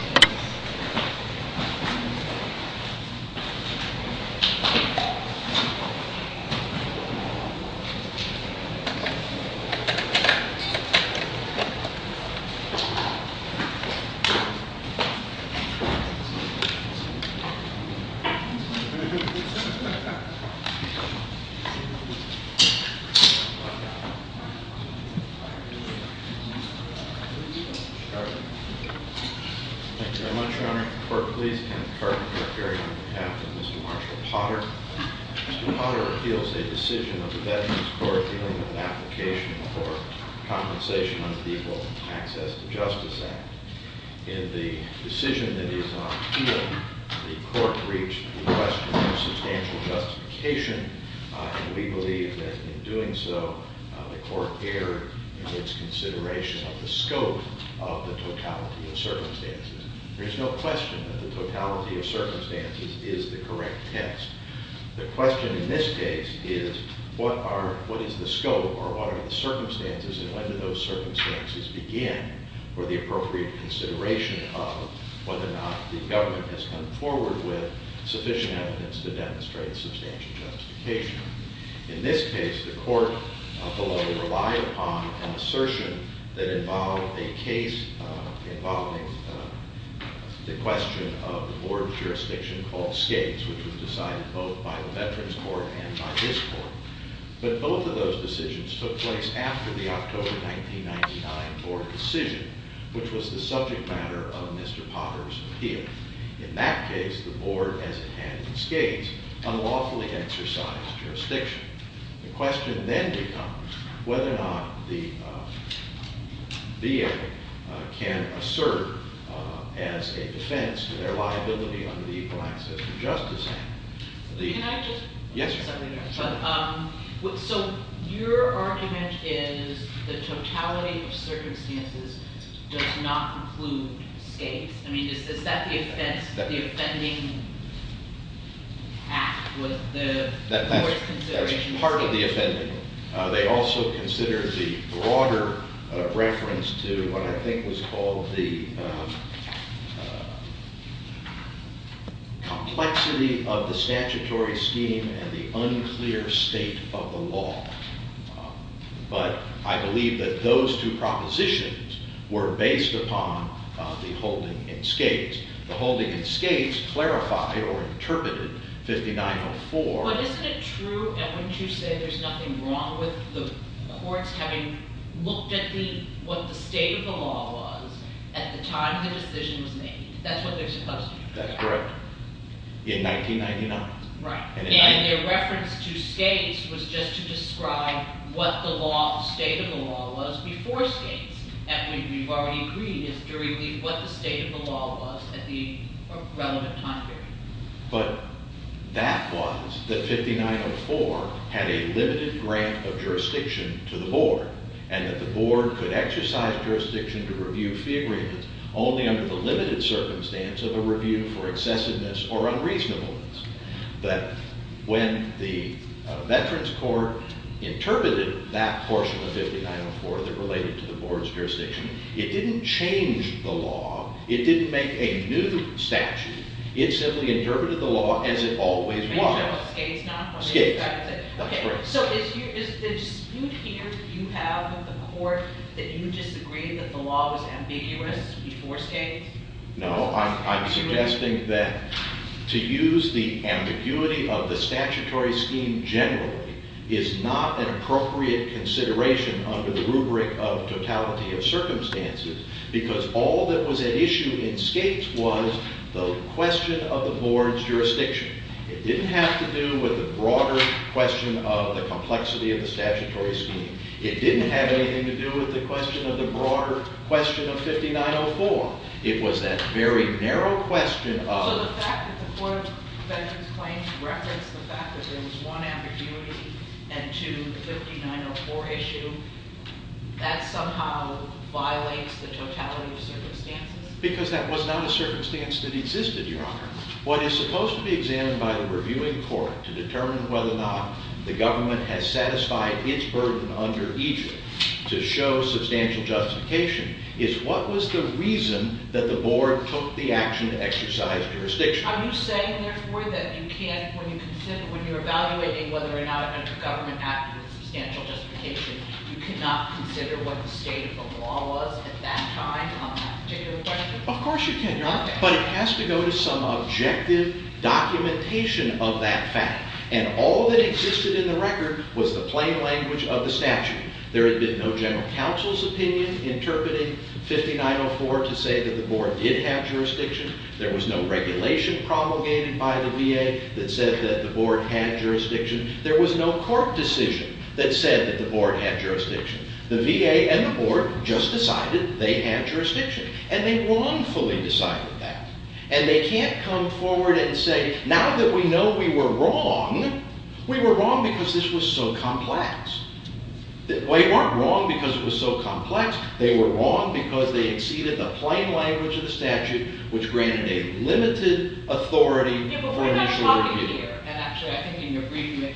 Test. Thank you very much, Your Honor. The court, please, and the department for appearing on behalf of Mr. Marshall Potter. Mr. Potter appeals a decision of the Veterans Court dealing with an application for compensation under the Equal Access to Justice Act. In the decision that is on appeal, the court reached a request for substantial justification, and we believe that in doing so, the court erred in its consideration of the scope of the totality of circumstances. There is no question that the totality of circumstances is the correct test. The question in this case is what is the scope, or what are the circumstances, and when do those circumstances begin for the appropriate consideration of whether or not the government has come forward with sufficient evidence to demonstrate substantial justification. In this case, the court will only rely upon an assertion that involved a case involving the question of the board jurisdiction called Skates, which was decided both by the Veterans Court and by this court. But both of those decisions took place after the October 1999 board decision, which was the subject matter of Mr. Potter's appeal. In that case, the board, as it had in Skates, unlawfully exercised jurisdiction. The question then becomes whether or not the VA can assert as a defense to their liability under the Equal Access to Justice Act. Can I just? Yes. So your argument is the totality of circumstances does not include Skates. I mean, is that the offense, the offending act with the board's consideration? That's part of the offending. They also considered the broader reference to what I think was called the complexity of the statutory scheme and the unclear state of the law. But I believe that those two propositions were based upon the holding in Skates. The holding in Skates clarified or interpreted 5904. But isn't it true, and wouldn't you say there's nothing wrong with the courts having looked at what the state of the law was at the time the decision was made? That's what they're supposed to do. That's correct. In 1999. Right. And their reference to Skates was just to describe what the state of the law was before Skates. And we've already agreed as to what the state of the law was at the relevant time period. But that was that 5904 had a limited grant of jurisdiction to the board and that the board could exercise jurisdiction to review fee agreements only under the limited circumstance of a review for excessiveness or unreasonableness. But when the veterans court interpreted that portion of 5904 that related to the board's jurisdiction, it didn't change the law. It didn't make a new statute. It simply interpreted the law as it always was. Skates not? Skates. That's correct. So is the dispute here that you have with the court that you disagree that the law was ambiguous before Skates? No, I'm suggesting that to use the ambiguity of the statutory scheme generally is not an appropriate consideration under the rubric of totality of circumstances because all that was at issue in Skates was the question of the board's jurisdiction. It didn't have to do with the broader question of the complexity of the statutory scheme. It didn't have anything to do with the question of the broader question of 5904. It was that very narrow question of- So the fact that the court of veterans claims referenced the fact that there was one ambiguity and two in the 5904 issue, that somehow violates the totality of circumstances? Because that was not a circumstance that existed, Your Honor. What is supposed to be examined by the reviewing court to determine whether or not the government has satisfied its burden under Egypt to show substantial justification is what was the reason that the board took the action to exercise jurisdiction. Are you saying, therefore, that you can't, when you're evaluating whether or not a government acted with substantial justification, you cannot consider what the state of the law was at that time on that particular question? Of course you cannot, but it has to go to some objective documentation of that fact. And all that existed in the record was the plain language of the statute. There had been no general counsel's opinion interpreting 5904 to say that the board did have jurisdiction. There was no regulation promulgated by the VA that said that the board had jurisdiction. There was no court decision that said that the board had jurisdiction. The VA and the board just decided they had jurisdiction. And they wrongfully decided that. And they can't come forward and say, now that we know we were wrong, we were wrong because this was so complex. They weren't wrong because it was so complex. They were wrong because they exceeded the plain language of the statute, which granted a limited authority for initial review. Yeah, but we're not talking here. And actually, I think in your briefing,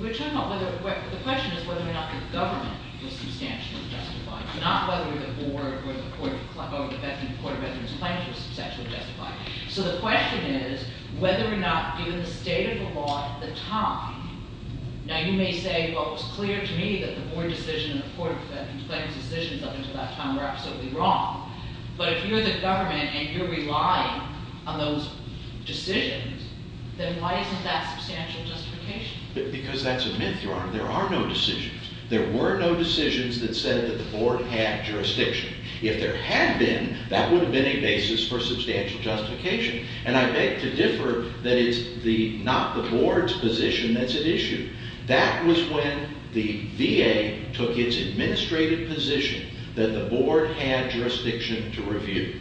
we're talking about whether or not the question is whether or not the government was substantially justified, not whether the board or the court of residence claims were substantially justified. So the question is whether or not, given the state of the law at the time, now you may say, well, it was clear to me that the board decision and the court of residence claims decisions up until that time were absolutely wrong. But if you're the government and you're relying on those decisions, then why isn't that substantial justification? Because that's a myth, Your Honor. There are no decisions. There were no decisions that said that the board had jurisdiction. If there had been, that would have been a basis for substantial justification. And I beg to differ that it's not the board's position that's at issue. That was when the VA took its administrative position that the board had jurisdiction to review.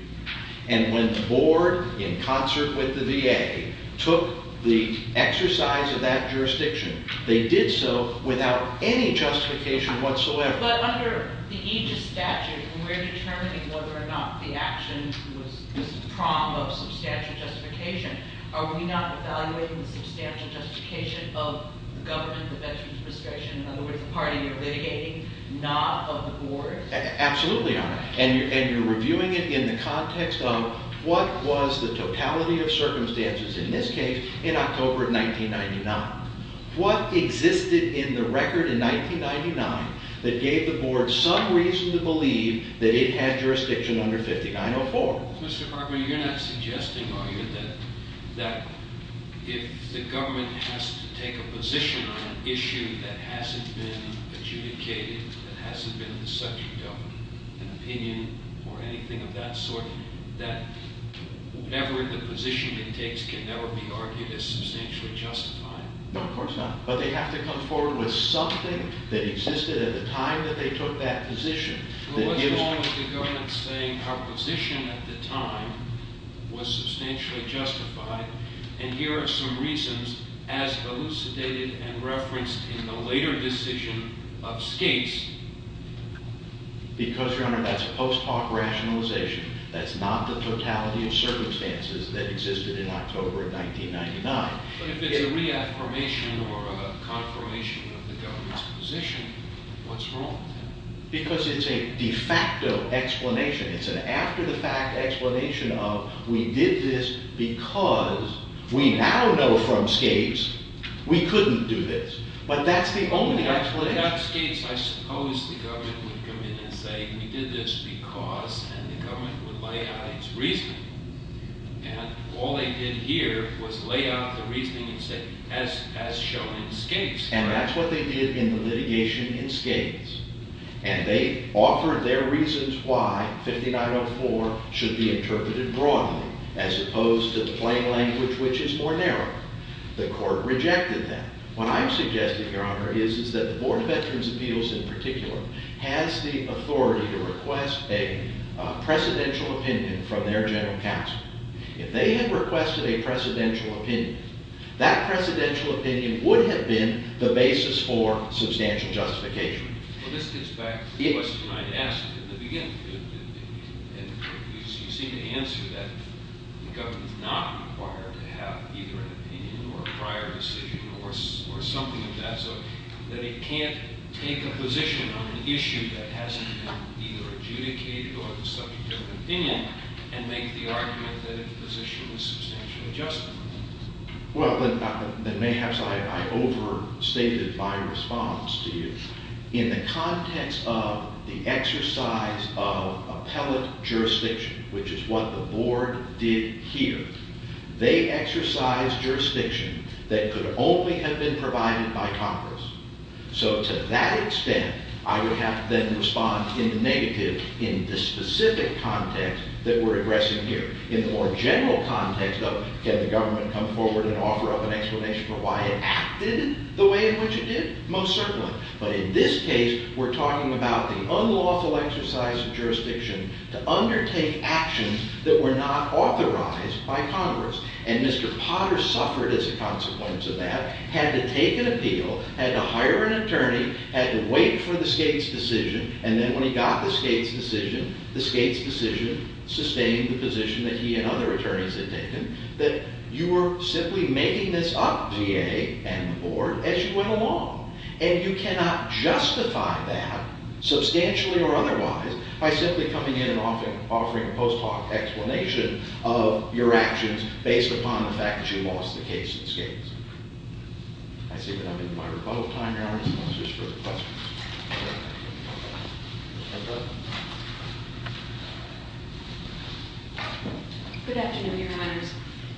And when the board, in concert with the VA, took the exercise of that jurisdiction, they did so without any justification whatsoever. But under the aegis statute, we're determining whether or not the action was prom of substantial justification. Are we not evaluating the substantial justification of the government, the veterans' prescription, in other words, the party you're litigating, not of the board? Absolutely, Your Honor. And you're reviewing it in the context of what was the totality of circumstances in this case in October of 1999. What existed in the record in 1999 that gave the board some reason to believe that it had jurisdiction under 5904? Mr. Farber, you're not suggesting, are you, that if the government has to take a position on an issue that hasn't been adjudicated, that hasn't been subject of an opinion or anything of that sort, that whatever the position it takes can never be argued as substantially justified? No, of course not. But they have to come forward with something that existed at the time that they took that position. Well, what's wrong with the government saying our position at the time was substantially justified? And here are some reasons, as elucidated and referenced in the later decision of Skates. Because, Your Honor, that's post hoc rationalization. That's not the totality of circumstances that existed in October of 1999. But if it's a reaffirmation or a confirmation of the government's position, what's wrong then? Because it's a de facto explanation. It's an after the fact explanation of we did this because we now know from Skates we couldn't do this. But that's the only explanation. Without Skates, I suppose the government would come in and say we did this because, and the government would lay out its reasoning. And all they did here was lay out the reasoning and say, as shown in Skates. And that's what they did in the litigation in Skates. And they offered their reasons why 5904 should be interpreted broadly, as opposed to the plain language, which is more narrow. The court rejected that. What I'm suggesting, Your Honor, is that the Board of Veterans' Appeals, in particular, has the authority to request a presidential opinion from their general counsel. If they had requested a presidential opinion, that presidential opinion would have been the basis for substantial justification. Well, this gets back to the question I asked in the beginning. You seem to answer that the government's not required to have either an opinion or a prior decision or something of that sort, that it can't take a position on an issue that hasn't been either adjudicated or the subject of an opinion and make the argument that the position was substantially justified. Well, then, mayhaps I overstated my response to you. In the context of the exercise of appellate jurisdiction, which is what the Board did here, they exercised jurisdiction that could only have been provided by Congress. So to that extent, I would have to then respond in the negative in the specific context that we're addressing here. In the more general context, though, can the government come forward and offer up an explanation for why it acted the way in which it did? Most certainly. But in this case, we're talking about the unlawful exercise of jurisdiction to undertake actions that were not authorized by Congress. And Mr. Potter suffered as a consequence of that, had to take an appeal, had to hire an attorney, had to wait for the state's decision, and then when he got the state's decision, the state's decision sustained the position that he and other attorneys had taken, that you were simply making this up, VA and the Board, as you went along. And you cannot justify that, substantially or otherwise, by simply coming in and offering a post hoc explanation of your actions based upon the fact that you lost the case in this case. I see that I'm in my rebuttal time, Your Honor, so I'm going to switch over to questions. Good afternoon, Your Honors.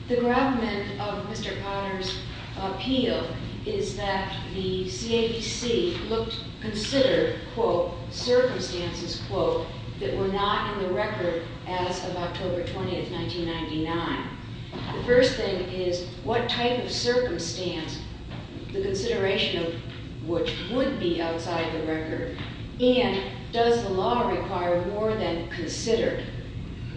The gravamen of Mr. Potter's appeal is that the CABC looked, considered, quote, circumstances, quote, that were not in the record as of October 20, 1999. The first thing is, what type of circumstance, the consideration of which would be outside the record, and does the law require more than considered?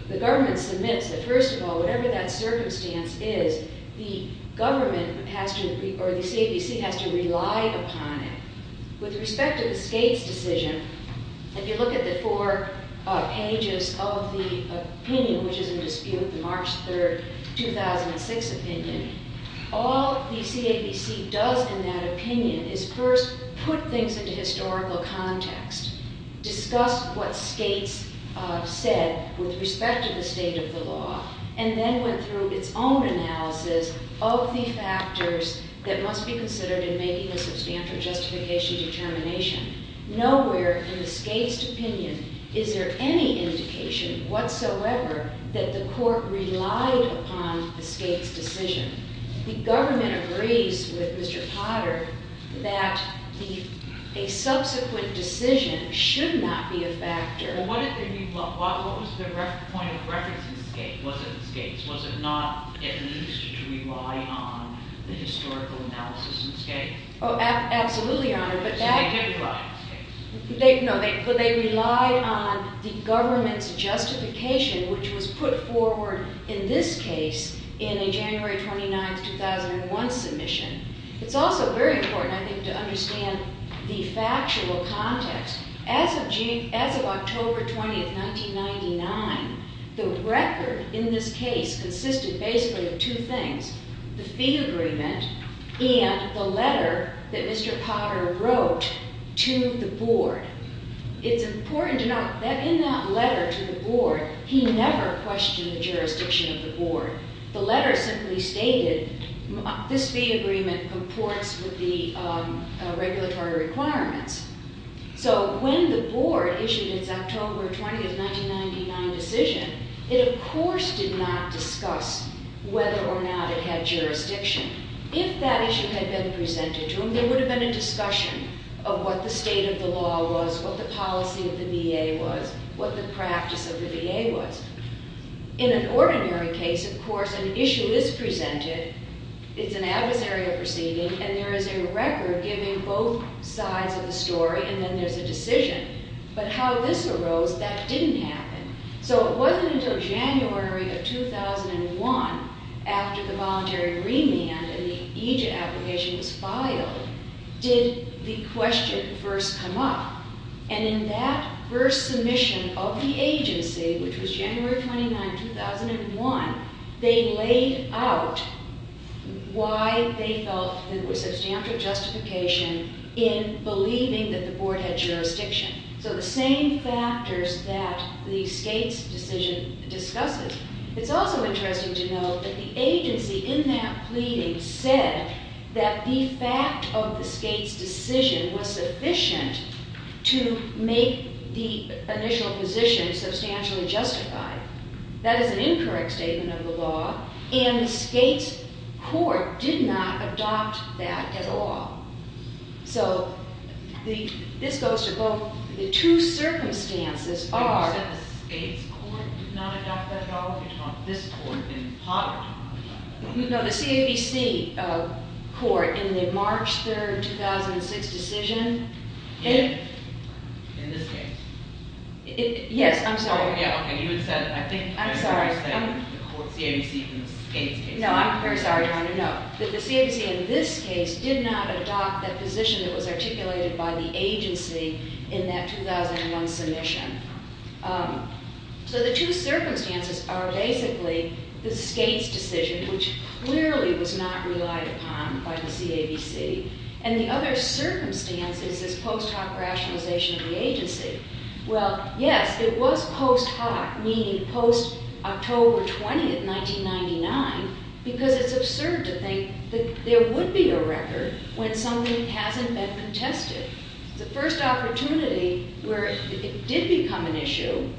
The government submits that, first of all, whatever that circumstance is, the government has to, or the CABC has to rely upon it. With respect to the Skates decision, if you look at the four pages of the opinion, which is in dispute, the March 3, 2006 opinion, all the CABC does in that opinion is first put things into historical context, discuss what Skates said with respect to the state of the law, and then went through its own analysis of the factors that must be considered in making a substantial justification determination. Nowhere in the Skates opinion is there any indication whatsoever that the court relied upon the Skates decision. The government agrees with Mr. Potter that a subsequent decision should not be a factor. Well, what was the point of reference in the Skates? Was it the Skates? Oh, absolutely, Your Honor, but they relied on the government's justification, which was put forward in this case in a January 29, 2001 submission. It's also very important, I think, to understand the factual context. As of October 20, 1999, the record in this case consisted basically of two things, the letter that Mr. Potter wrote to the board. It's important to note that in that letter to the board, he never questioned the jurisdiction of the board. The letter simply stated, this fee agreement comports with the regulatory requirements. So when the board issued its October 20, 1999 decision, it of course did not discuss whether or not it had jurisdiction. If that issue had been presented to him, there would have been a discussion of what the state of the law was, what the policy of the VA was, what the practice of the VA was. In an ordinary case, of course, an issue is presented, it's an adversarial proceeding, and there is a record giving both sides of the story, and then there's a decision. But how this arose, that didn't happen. So it wasn't until January of 2001, after the voluntary remand and the EJIT application was filed, did the question first come up. And in that first submission of the agency, which was January 29, 2001, they laid out why they felt there was substantial justification in believing that the board had jurisdiction. So the same factors that the Skates decision discusses. It's also interesting to note that the agency in that pleading said that the fact of the Skates decision was sufficient to make the initial position substantially justified. That is an incorrect statement of the law, and the Skates court did not adopt that at all. So this goes to both. The two circumstances are- You said the Skates court did not adopt that at all? You're talking about this court in Potter? No, the CAVC court in the March 3, 2006 decision. In this case? Yes, I'm sorry. Yeah, okay, you had said, I think- I'm sorry. You said the court CAVC in the Skates case. No, I'm very sorry, I wanted to note that the CAVC in this case did not adopt that position that was articulated by the agency in that 2001 submission. So the two circumstances are basically the Skates decision, which clearly was not relied upon by the CAVC. And the other circumstance is this post hoc rationalization of the agency. Well, yes, it was post hoc, meaning post October 20, 1999, because it's absurd to think that there would be a record when something hasn't been contested. The first opportunity where it did become an issue,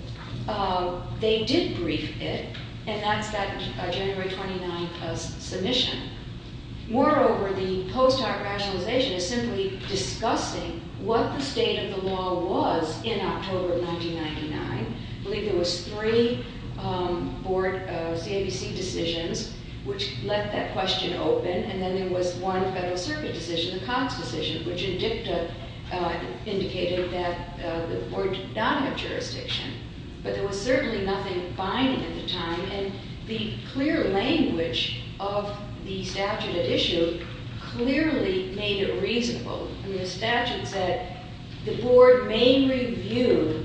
they did brief it, and that's that January 29 submission. Moreover, the post hoc rationalization is simply discussing what the state of the law was in October of 1999. I believe there was three board CAVC decisions which left that question open, and then there was one Federal Circuit decision, the Cox decision, which indicated that the board did not have jurisdiction. But there was certainly nothing binding at the time, and the clear language of the statute at issue clearly made it reasonable. I mean, the statute said the board may review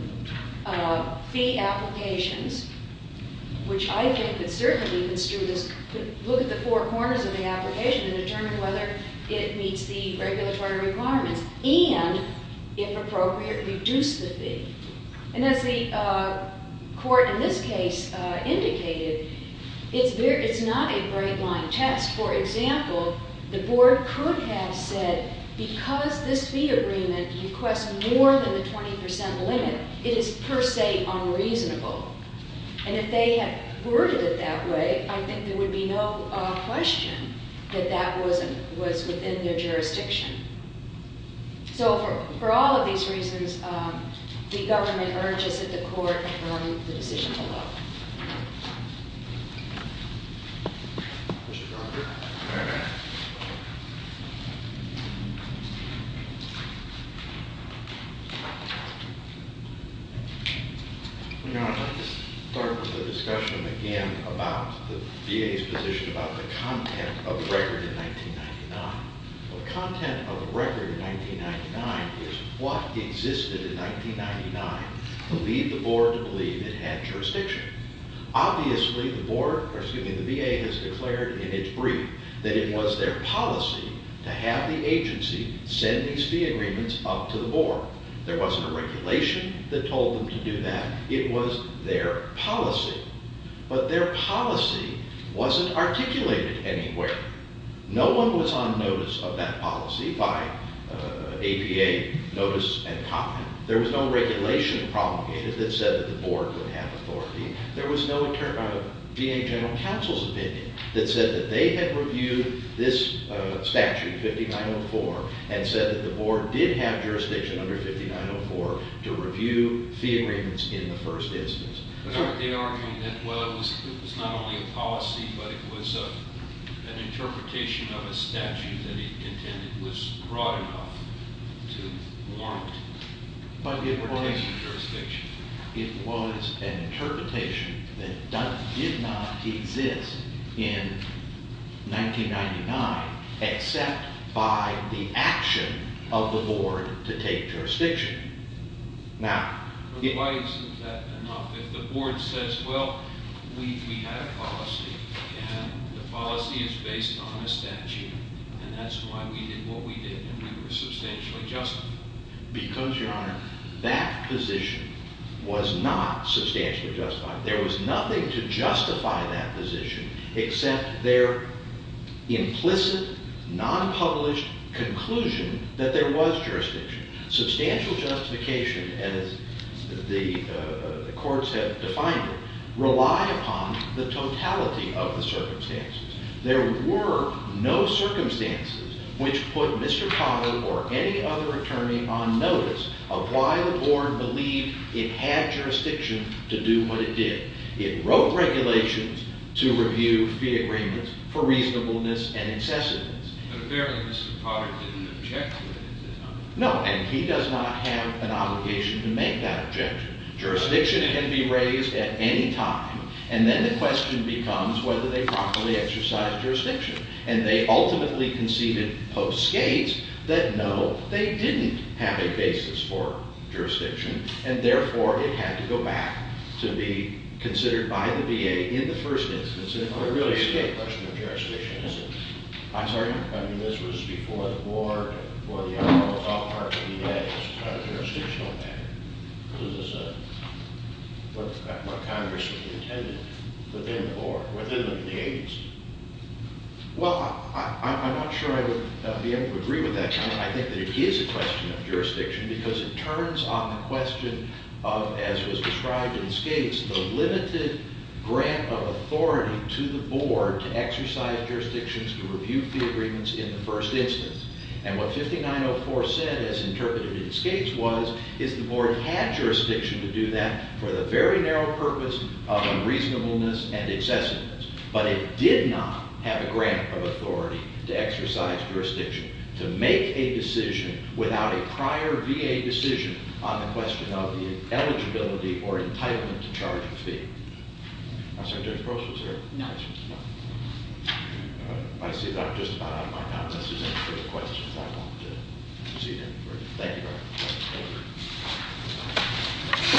fee applications, which I think would certainly construe this, could look at the four corners of the application and determine whether it meets the regulatory requirements, and, if appropriate, reduce the fee. And as the court in this case indicated, it's not a great line test. For example, the board could have said, because this fee agreement requests more than the 20 percent limit, it is per se unreasonable. And if they had worded it that way, I think there would be no question that that was within their jurisdiction. So, for all of these reasons, the government urges that the court perform the decision below. MR. GARRETT. You know, I'd like to start with the discussion again about the VA's position about the content of the record in 1999. Well, the content of the record in 1999 is what existed in 1999 to lead the board to believe it had jurisdiction. Obviously, the board, or excuse me, the VA has declared in its brief that it was their policy to have the agency send these fee agreements up to the board. There wasn't a regulation that told them to do that. It was their policy. But their policy wasn't articulated anywhere. No one was on notice of that policy by APA, notice and comment. There was no regulation promulgated that said that the board would have authority. There was no VA General Counsel's opinion that said that they had reviewed this statute, 5904, and said that the board did have jurisdiction under 5904 to review fee agreements in the first instance. But aren't they arguing that, well, it was not only a policy, but it was an interpretation of a statute that it intended was broad enough to warrant participation in jurisdiction? MR. GARRETT. It was an interpretation that did not exist in 1999 except by the action of the board to take jurisdiction. Now, the GARRETT. Why isn't that enough? If the board says, well, we had a policy, and the policy is based on a statute, and that's why we did what we did, and we were substantially justified. MR. GARRETT. Because, Your Honor, that position was not substantially justified. There was nothing to justify that position except their implicit, nonpublished conclusion that there was jurisdiction. Substantial justification, as the courts have defined it, rely upon the totality of the circumstances. There were no circumstances which put Mr. Potter or any other attorney on notice of why the board believed it had jurisdiction to do what it did. It wrote regulations to review fee agreements for reasonableness and incessantness. But apparently Mr. Potter didn't object to it at the time. GARRETT. No, and he does not have an obligation to make that objection. Jurisdiction can be raised at any time, and then the question becomes whether they properly exercised jurisdiction. And they ultimately conceded post-Skates that, no, they didn't have a basis for jurisdiction, and therefore it had to go back to be considered by the VA in the first instance. It really is a question of jurisdiction, isn't it? I'm sorry? I mean, this was before the war, before the arm of the top party VA. It's a jurisdictional matter. This is what Congress intended within the board, within the VA's. Well, I'm not sure I would be able to agree with that. I think that it is a question of jurisdiction because it turns on the question of, as was authority to the board to exercise jurisdictions to review fee agreements in the first instance. And what 5904 said, as interpreted in Skates, was, is the board had jurisdiction to do that for the very narrow purpose of unreasonableness and incessantness. But it did not have a grant of authority to exercise jurisdiction to make a decision without a prior VA decision on the question of the eligibility or entitlement to charge a fee. I'm sorry, Judge Gross was here? No. I see that I'm just about out of my time. This is it for the questions. I want to proceed any further. Thank you very much. Thank you. Thank you.